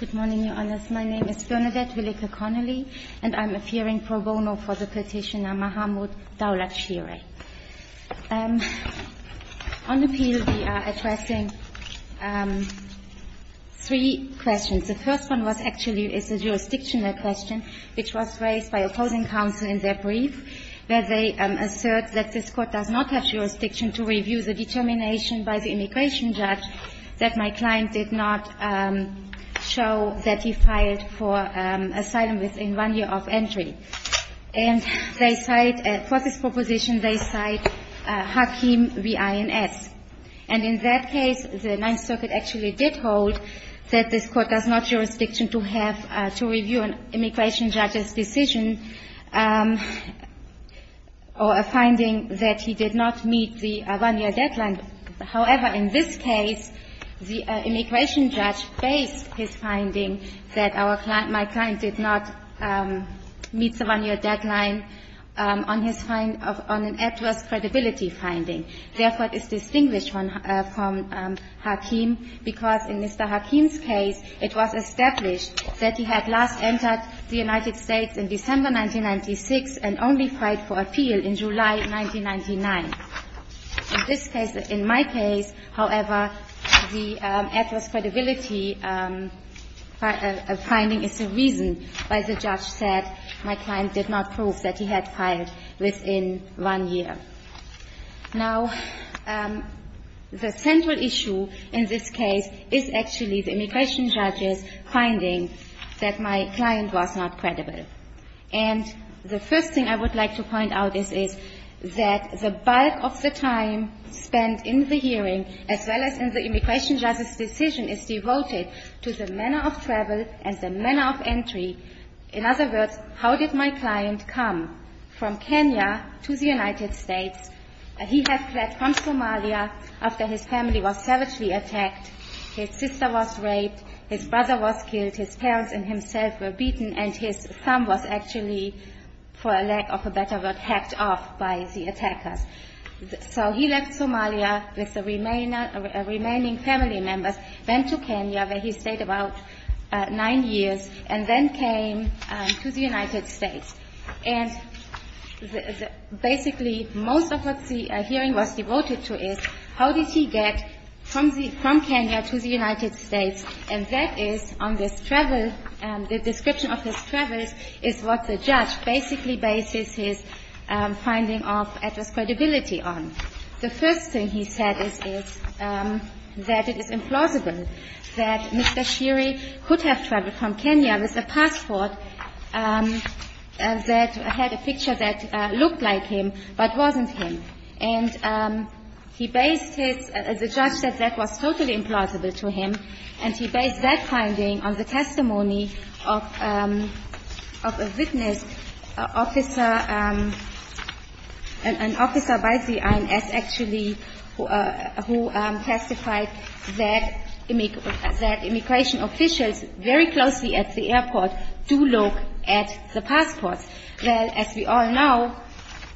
Good morning, Your Honours. My name is Bernadette Willeke Connolly, and I'm appearing pro bono for the petitioner Mahmoud Daulat Shire. On appeal, we are addressing three questions. The first one was actually a jurisdictional question, which was raised by opposing counsel in their brief, where they assert that this Court does not have jurisdiction to review the determination by the immigration judge that my client did not show that he filed for asylum within one year of entry. And they cite, for this proposition, they cite Hakeem v. INS. And in that case, the Ninth Circuit actually did hold that this Court does not have jurisdiction to have to review an immigration judge's decision or a finding that he did not meet the one-year deadline. However, in this case, the immigration judge based his finding that our client my client did not meet the one-year deadline on his find of an adverse credibility finding. Therefore, it's distinguished from Hakeem, because in Mr. Hakeem's case, it was established that he had last entered the United States in December 1996 and only filed for appeal in July 1999. In this case, in my case, however, the adverse credibility finding is the reason why the judge said my client did not prove that he had filed within one year. Now, the central issue in this case is actually the immigration judge's finding that my client was not credible. And the first thing I would like to point out is that the bulk of the time spent in the hearing as well as in the immigration judge's decision is devoted to the manner of travel and the manner of entry. In other words, how did my client come from Kenya to the United States? He had fled from Somalia after his family was savagely attacked, his sister was raped, his brother was killed, his parents and himself were beaten, and his thumb was actually, for lack of a better word, hacked off by the attackers. So he left Somalia with the remaining family members, went to Kenya where he stayed about nine years, and then came to the United States. And basically, most of what the hearing was devoted to is how did he get from Kenya to the United States. And that is on this travel, the description of his travels is what the judge basically bases his finding of adverse credibility on. The first thing I would like to point out is that the judge's finding was totally implausible, that Mr. Shiri could have traveled from Kenya with a passport that had a picture that looked like him but wasn't him. And he based his – the judge said that was totally implausible to him, and he based that finding on the testimony of a witness, an officer by the INS actually who testified that immigration officials very closely at the airport do look at the passports. Well, as we all know,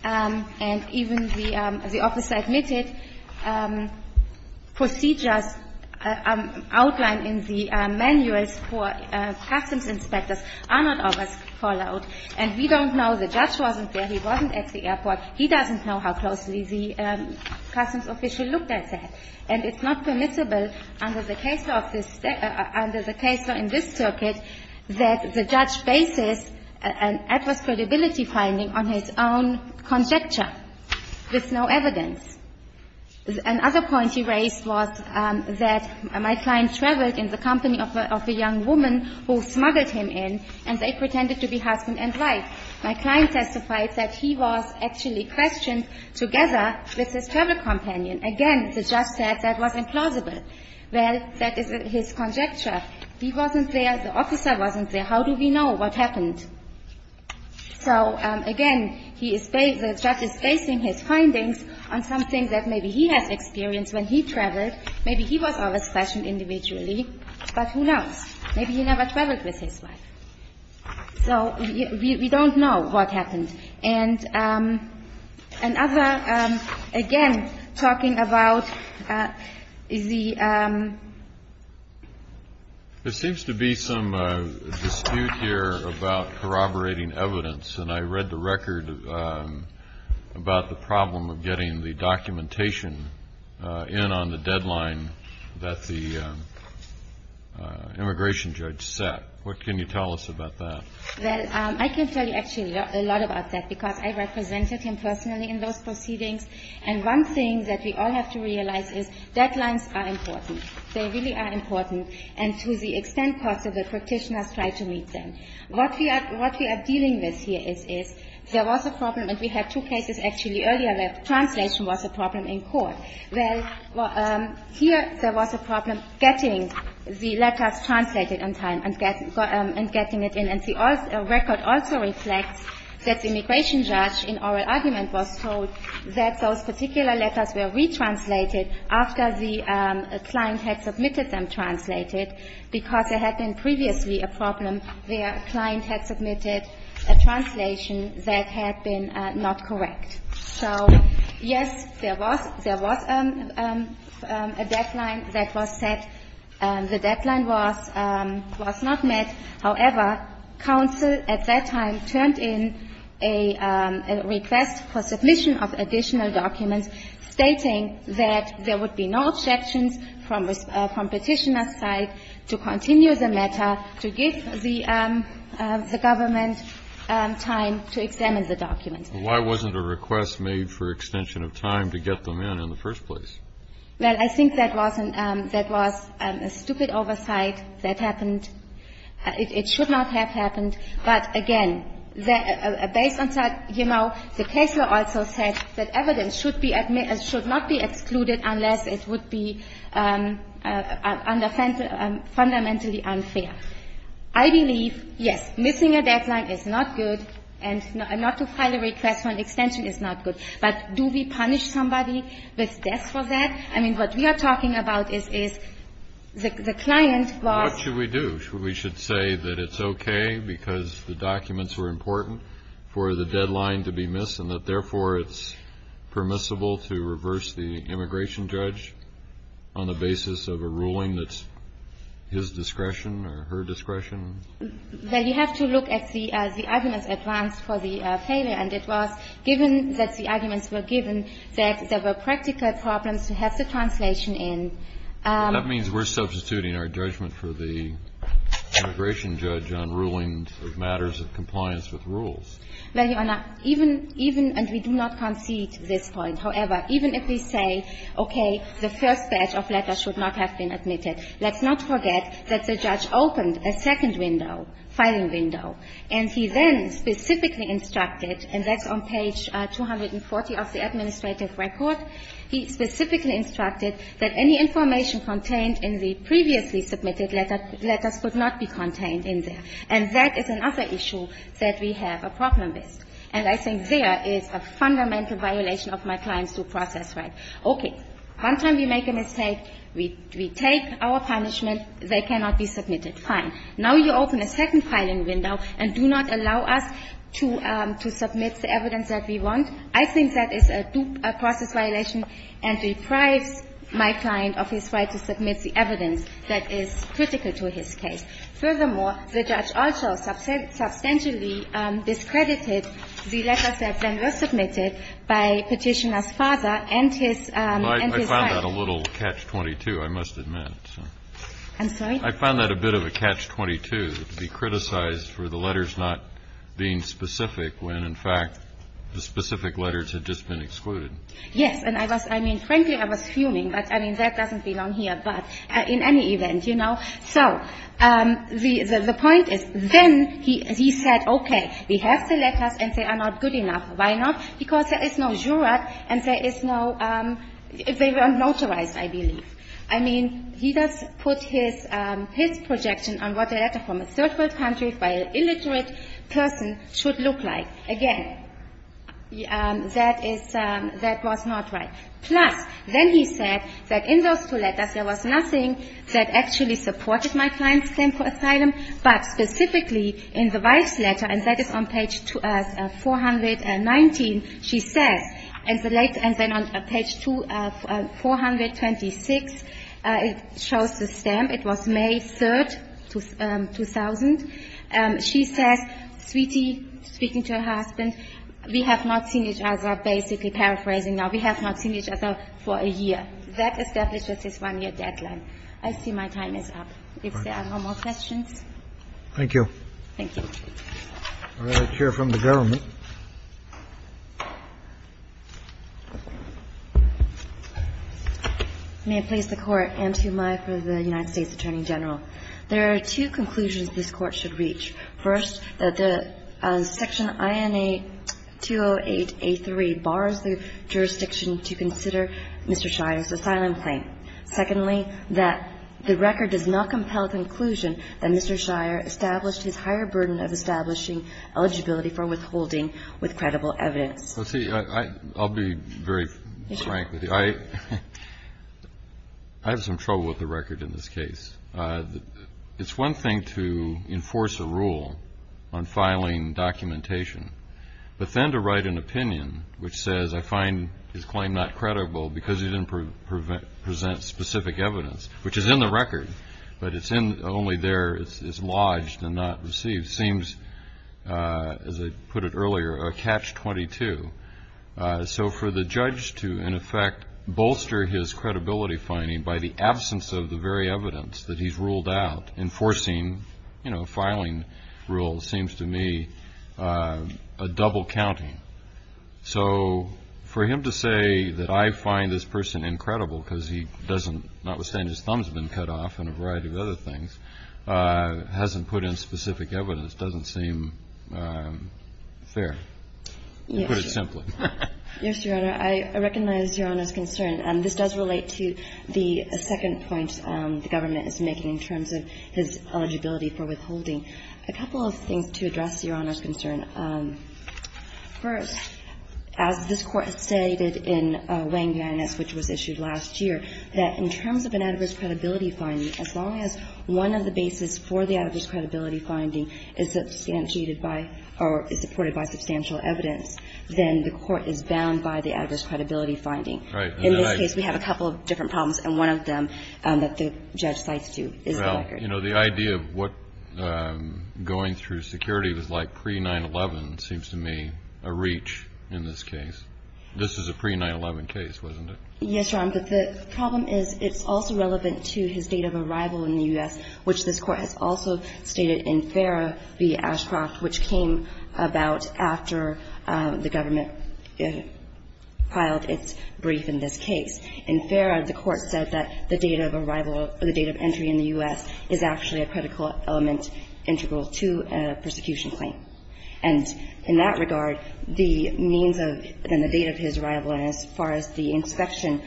and even the officer admitted, procedures outlined in the manuals for customs inspectors are not always followed. And we don't know the judge wasn't there, he wasn't at the airport, he doesn't know how closely the customs official looked at that. And it's not permissible under the case law of this – under the case law in this circuit that the judge bases an adverse credibility finding on his own conjecture with no evidence. Another point he raised was that my client traveled in the company of a young woman who smuggled him in, and they pretended to be husband and wife. My client testified that he was actually questioned together with his travel companion. Again, the judge said that was implausible. Well, that is his conjecture. He wasn't there, the officer wasn't there. How do we know what happened? So, again, he is – the judge is basing his findings on something that maybe he has experienced when he traveled. Maybe he was there for a session individually, but who knows? Maybe he never traveled with his wife. So we don't know what happened. And another, again, talking about the – There seems to be some dispute here about corroborating evidence, and I read the record about the problem of getting the documentation in on the deadline that the judge – that the immigration judge set. What can you tell us about that? Well, I can tell you actually a lot about that, because I represented him personally in those proceedings, and one thing that we all have to realize is deadlines are important. They really are important, and to the extent possible, practitioners try to meet them. What we are dealing with here is there was a problem, and we had two cases actually earlier where translation was a problem in court. Well, here there was a problem getting the letters translated on time and getting it in. And the record also reflects that the immigration judge in oral argument was told that those particular letters were retranslated after the client had submitted them translated, because there had been previously a problem where a client had submitted a translation that had been not correct. So, yes, there was – there was a deadline that was set. The deadline was not met. However, counsel at that time turned in a request for submission of additional documents stating that there would be no objections from Petitioner's side to continue the matter, to give the government time to examine the document. Why wasn't a request made for extension of time to get them in in the first place? Well, I think that was a stupid oversight that happened. It should not have happened. But, again, based on that, you know, the case law also said that evidence should not be excluded unless it would be fundamentally unfair. I believe, yes, missing a deadline is not good, and not to file a request for an extension is not good. But do we punish somebody with death for that? I mean, what we are talking about is the client was – What should we do? We should say that it's okay because the documents were important for the deadline to be missed, and that, therefore, it's permissible to reverse the immigration judge on the basis of a ruling that's his discretion or her discretion? Well, you have to look at the arguments advanced for the failure, and it was, given that the arguments were given, that there were practical problems to have the translation in. That means we're substituting our judgment for the immigration judge on rulings of matters of compliance with rules. Well, Your Honor, even – and we do not concede this point. However, even if we say, okay, the first batch of letters should not have been admitted, let's not forget that the judge opened a second window, filing window, and he then specifically instructed, and that's on page 240 of the administrative record, he specifically instructed that any information contained in the previously submitted letters could not be contained in there. And that is another issue that we have a problem with. And I think there is a fundamental violation of my client's due process right. Okay. One time we make a mistake, we take our punishment, they cannot be submitted. Fine. Now you open a second filing window and do not allow us to – to submit the evidence that we want. I think that is a due process violation and deprives my client of his right to submit the evidence that is critical to his case. Furthermore, the judge also substantially discredited the letters that then were submitted by Petitioner's father and his – and his wife. Well, I found that a little catch-22, I must admit. I'm sorry? I found that a bit of a catch-22 to be criticized for the letters not being specific when, in fact, the specific letters had just been excluded. Yes. And I was – I mean, frankly, I was fuming, but, I mean, that doesn't belong here, but in any event, you know. So the point is, then he said, okay, we have the letter from a third-world country by an illiterate person should look like. Again, that is – that was not right. Plus, then he said that in those two letters there was nothing that actually supported my client's claim for asylum, but specifically in the wife's letter, and that is on page 419, she said that there was nothing And then on page 426, it shows the stamp. It was May 3, 2000. She says, sweetie, speaking to her husband, we have not seen each other, basically paraphrasing now, we have not seen each other for a year. That establishes this one-year deadline. I see my time is up. If there are no more questions. Thank you. Thank you. All right. Chair, from the government. May it please the Court. Ann Toomai for the United States Attorney General. There are two conclusions this Court should reach. First, that the section INA 208A3 bars the jurisdiction to consider Mr. Shire's asylum claim. Secondly, that the record does not compel the conclusion that Mr. Shire established his higher burden of establishing eligibility for withholding with credible evidence. See, I'll be very frank with you. I have some trouble with the record in this case. It's one thing to enforce a rule on filing documentation, but then to write an opinion which says I find his claim not credible because he didn't present specific evidence, which is in the record, but it's only there. It's lodged and not received. Seems, as I put it earlier, a catch-22. So for the judge to, in effect, bolster his credibility finding by the absence of the very evidence that he's ruled out enforcing a filing rule seems to me a double-counting. So for him to say that I find this person incredible because he doesn't, notwithstanding his thumb's been cut off and a variety of other things, hasn't put in specific evidence doesn't seem fair, to put it simply. Yes, Your Honor. I recognize Your Honor's concern. This does relate to the second point the government is making in terms of his eligibility for withholding. A couple of things to address Your Honor's concern. First, as this Court stated in Wayne v. INS, which was issued last year, that in terms of an adverse credibility finding, as long as one of the bases for the adverse credibility finding is substantiated by or is supported by substantial evidence, then the Court is bound by the adverse credibility finding. In this case, we have a couple of different problems, and one of them that the judge cites to is the record. You know, the idea of what going through security was like pre-9-11 seems to me a reach in this case. This is a pre-9-11 case, wasn't it? Yes, Your Honor, but the problem is it's also relevant to his date of arrival in the U.S., which this Court has also stated in FARA v. Ashcroft, which came about after the government filed its brief in this case. In FARA, the Court said that the date of arrival or the date of entry in the U.S. is actually a critical element integral to a persecution claim. And in that regard, the means of the date of his arrival and as far as the inspection,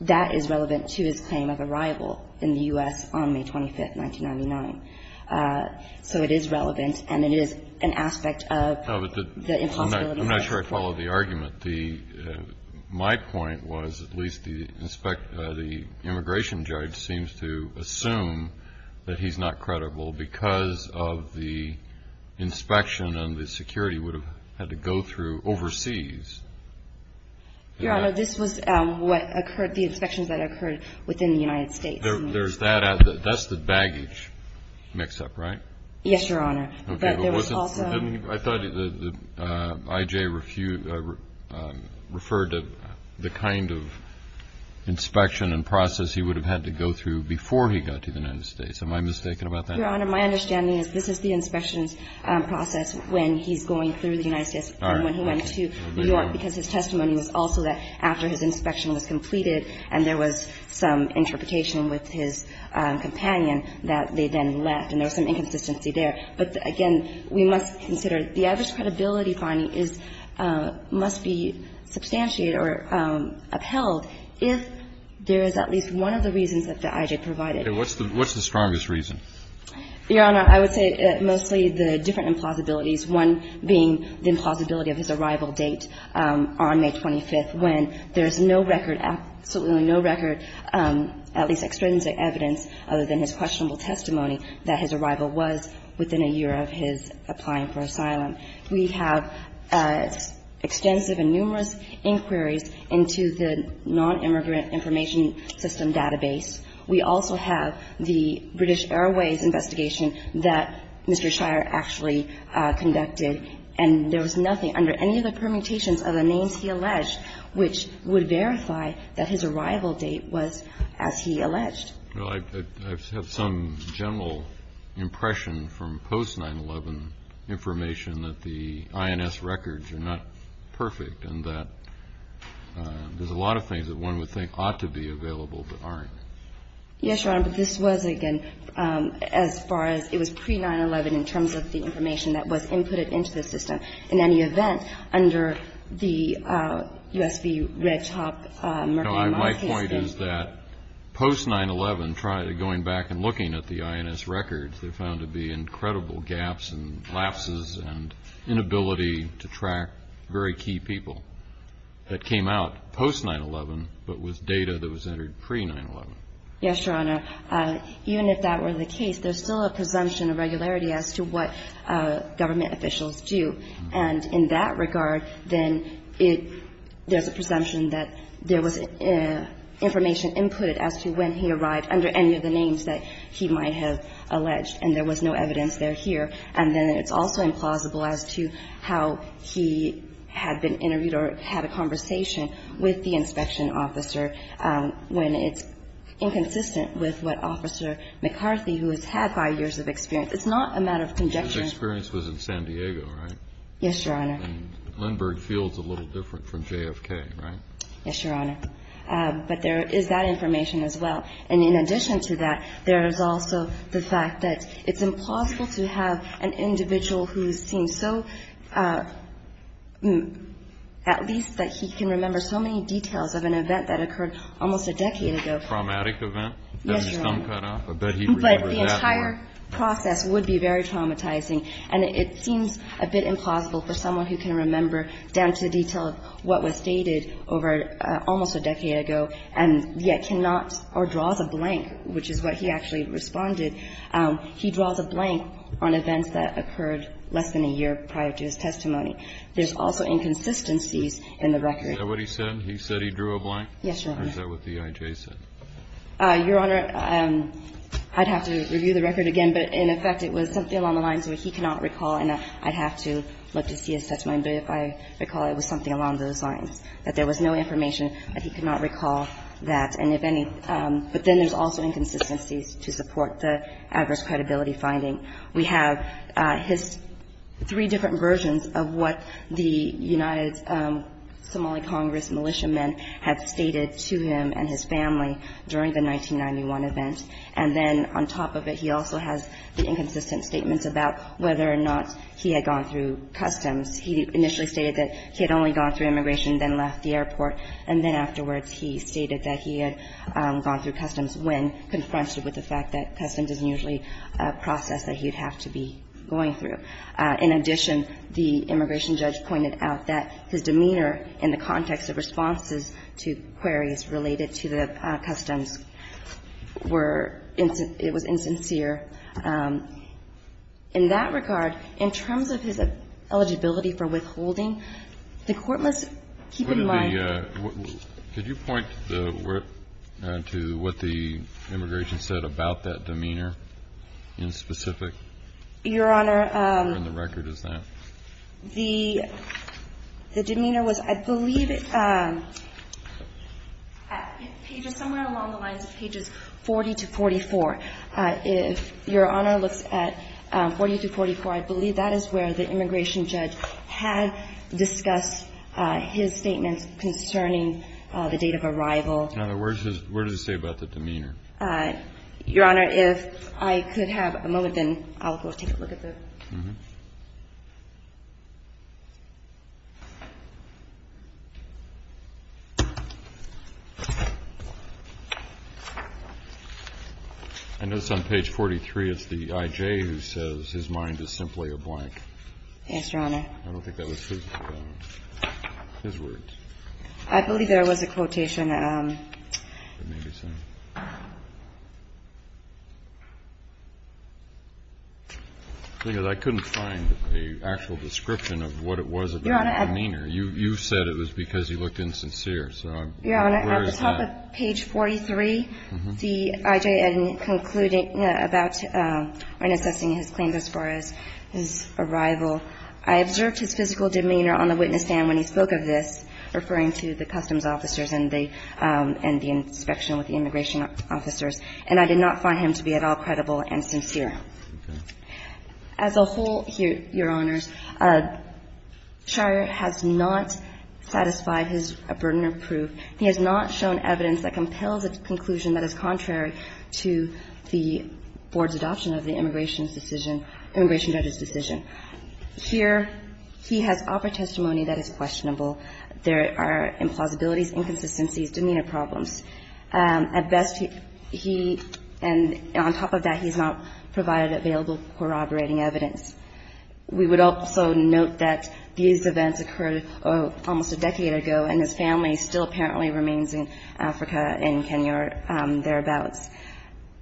that is relevant to his claim of arrival in the U.S. on May 25th, 1999. So it is relevant, and it is an aspect of the impossibility of the prosecution. I followed the argument. My point was at least the immigration judge seems to assume that he's not credible because of the inspection and the security would have had to go through overseas. Your Honor, this was what occurred, the inspections that occurred within the United States. That's the baggage mix-up, right? Yes, Your Honor. I thought that I.J. referred to the kind of inspection and process he would have had to go through before he got to the United States. Am I mistaken about that? Your Honor, my understanding is this is the inspections process when he's going through the United States and when he went to New York because his testimony was also that after his inspection was completed and there was some interpretation with his companion that they then left and there was some inconsistency there. But, again, we must consider the average credibility finding must be substantiated or upheld if there is at least one of the reasons that the I.J. provided. Okay. What's the strongest reason? Your Honor, I would say mostly the different implausibilities, one being the implausibility of his arrival date on May 25th when there is no record, absolutely no record, at least extrinsic evidence other than his questionable testimony that his arrival was within a year of his applying for asylum. We have extensive and numerous inquiries into the nonimmigrant information system database. We also have the British Airways investigation that Mr. Shire actually conducted, and there was nothing under any of the permutations of the names he alleged which would verify that his arrival date was as he alleged. Well, I have some general impression from post-9-11 information that the INS records are not perfect and that there's a lot of things that one would think ought to be available but aren't. Yes, Your Honor. But this was, again, as far as it was pre-9-11 in terms of the information that was inputted into the system in any event under the U.S.V. Red Top Mercury Mine case. My point is that post-9-11, going back and looking at the INS records, they're found to be incredible gaps and lapses and inability to track very key people that came out post-9-11 but with data that was entered pre-9-11. Yes, Your Honor. Even if that were the case, there's still a presumption of regularity as to what government officials do. And in that regard, then there's a presumption that there was information inputted as to when he arrived under any of the names that he might have alleged and there was no evidence there here. And then it's also implausible as to how he had been interviewed or had a conversation with the inspection officer when it's inconsistent with what Officer McCarthy, who has had five years of experience. It's not a matter of conjecture. His experience was in San Diego, right? Yes, Your Honor. And Lindbergh Field is a little different from JFK, right? Yes, Your Honor. But there is that information as well. And in addition to that, there is also the fact that it's impossible to have an individual who seems so at least that he can remember so many details of an event that occurred almost a decade ago. A traumatic event? Yes, Your Honor. That his thumb cut off? I bet he remembers that one. But the entire process would be very traumatizing. And it seems a bit implausible for someone who can remember down to the detail of what was stated over almost a decade ago and yet cannot or draws a blank, which is what he actually responded. He draws a blank on events that occurred less than a year prior to his testimony. There's also inconsistencies in the record. Is that what he said? He said he drew a blank? Yes, Your Honor. Or is that what the I.J. said? Your Honor, I'd have to review the record again. But, in effect, it was something along the lines where he cannot recall. And I'd have to look to see his testimony. But if I recall, it was something along those lines, that there was no information that he could not recall that. But then there's also inconsistencies to support the adverse credibility finding. We have his three different versions of what the United Somali Congress militiamen have stated to him and his family during the 1991 event. And then on top of it, he also has the inconsistent statements about whether or not he had gone through customs. He initially stated that he had only gone through immigration and then left the airport, and then afterwards he stated that he had gone through customs when confronted with the fact that customs isn't usually a process that he'd have to be going through. In addition, the immigration judge pointed out that his demeanor in the context of responses to queries related to the customs were insincere. In that regard, in terms of his eligibility for withholding, the Court must keep in mind the ---- Could you point to what the immigration said about that demeanor in specific? Your Honor ---- And the record is that. The demeanor was, I believe, pages somewhere along the lines of pages 40 to 44. If Your Honor looks at 40 to 44, I believe that is where the immigration judge had discussed his statements concerning the date of arrival. Now, where does it say about the demeanor? Your Honor, if I could have a moment, then I'll go take a look at the ---- I notice on page 43 it's the I.J. who says his mind is simply a blank. Yes, Your Honor. I don't think that was his words. I believe there was a quotation. The thing is, I couldn't find an actual description of what it was about the demeanor. Your Honor ---- You said it was because he looked insincere. So where is that? Your Honor, at the top of page 43, the I.J. and concluding about when assessing his claims as far as his arrival, I observed his physical demeanor on the witness stand when he spoke of this, referring to the customs officers and the inspection with the immigration officers. And I did not find him to be at all credible and sincere. As a whole, Your Honors, Shire has not satisfied his burden of proof. He has not shown evidence that compels a conclusion that is contrary to the board's adoption of the immigration's decision, immigration judge's decision. Here, he has upper testimony that is questionable. There are implausibilities, inconsistencies, demeanor problems. At best, he ---- and on top of that, he has not provided available corroborating evidence. We would also note that these events occurred almost a decade ago, and his family still apparently remains in Africa and Kenya or thereabouts.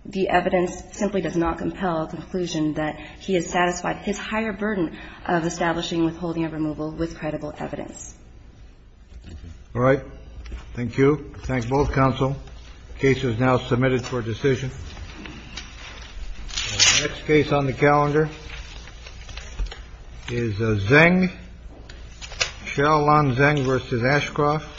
The evidence simply does not compel a conclusion that he has satisfied his higher burden of establishing withholding of removal with credible evidence. All right. Thank you. I thank both counsel. The case is now submitted for decision. The next case on the calendar is Zeng, Sheryl Lon Zeng v. Ashcroft. Thank you.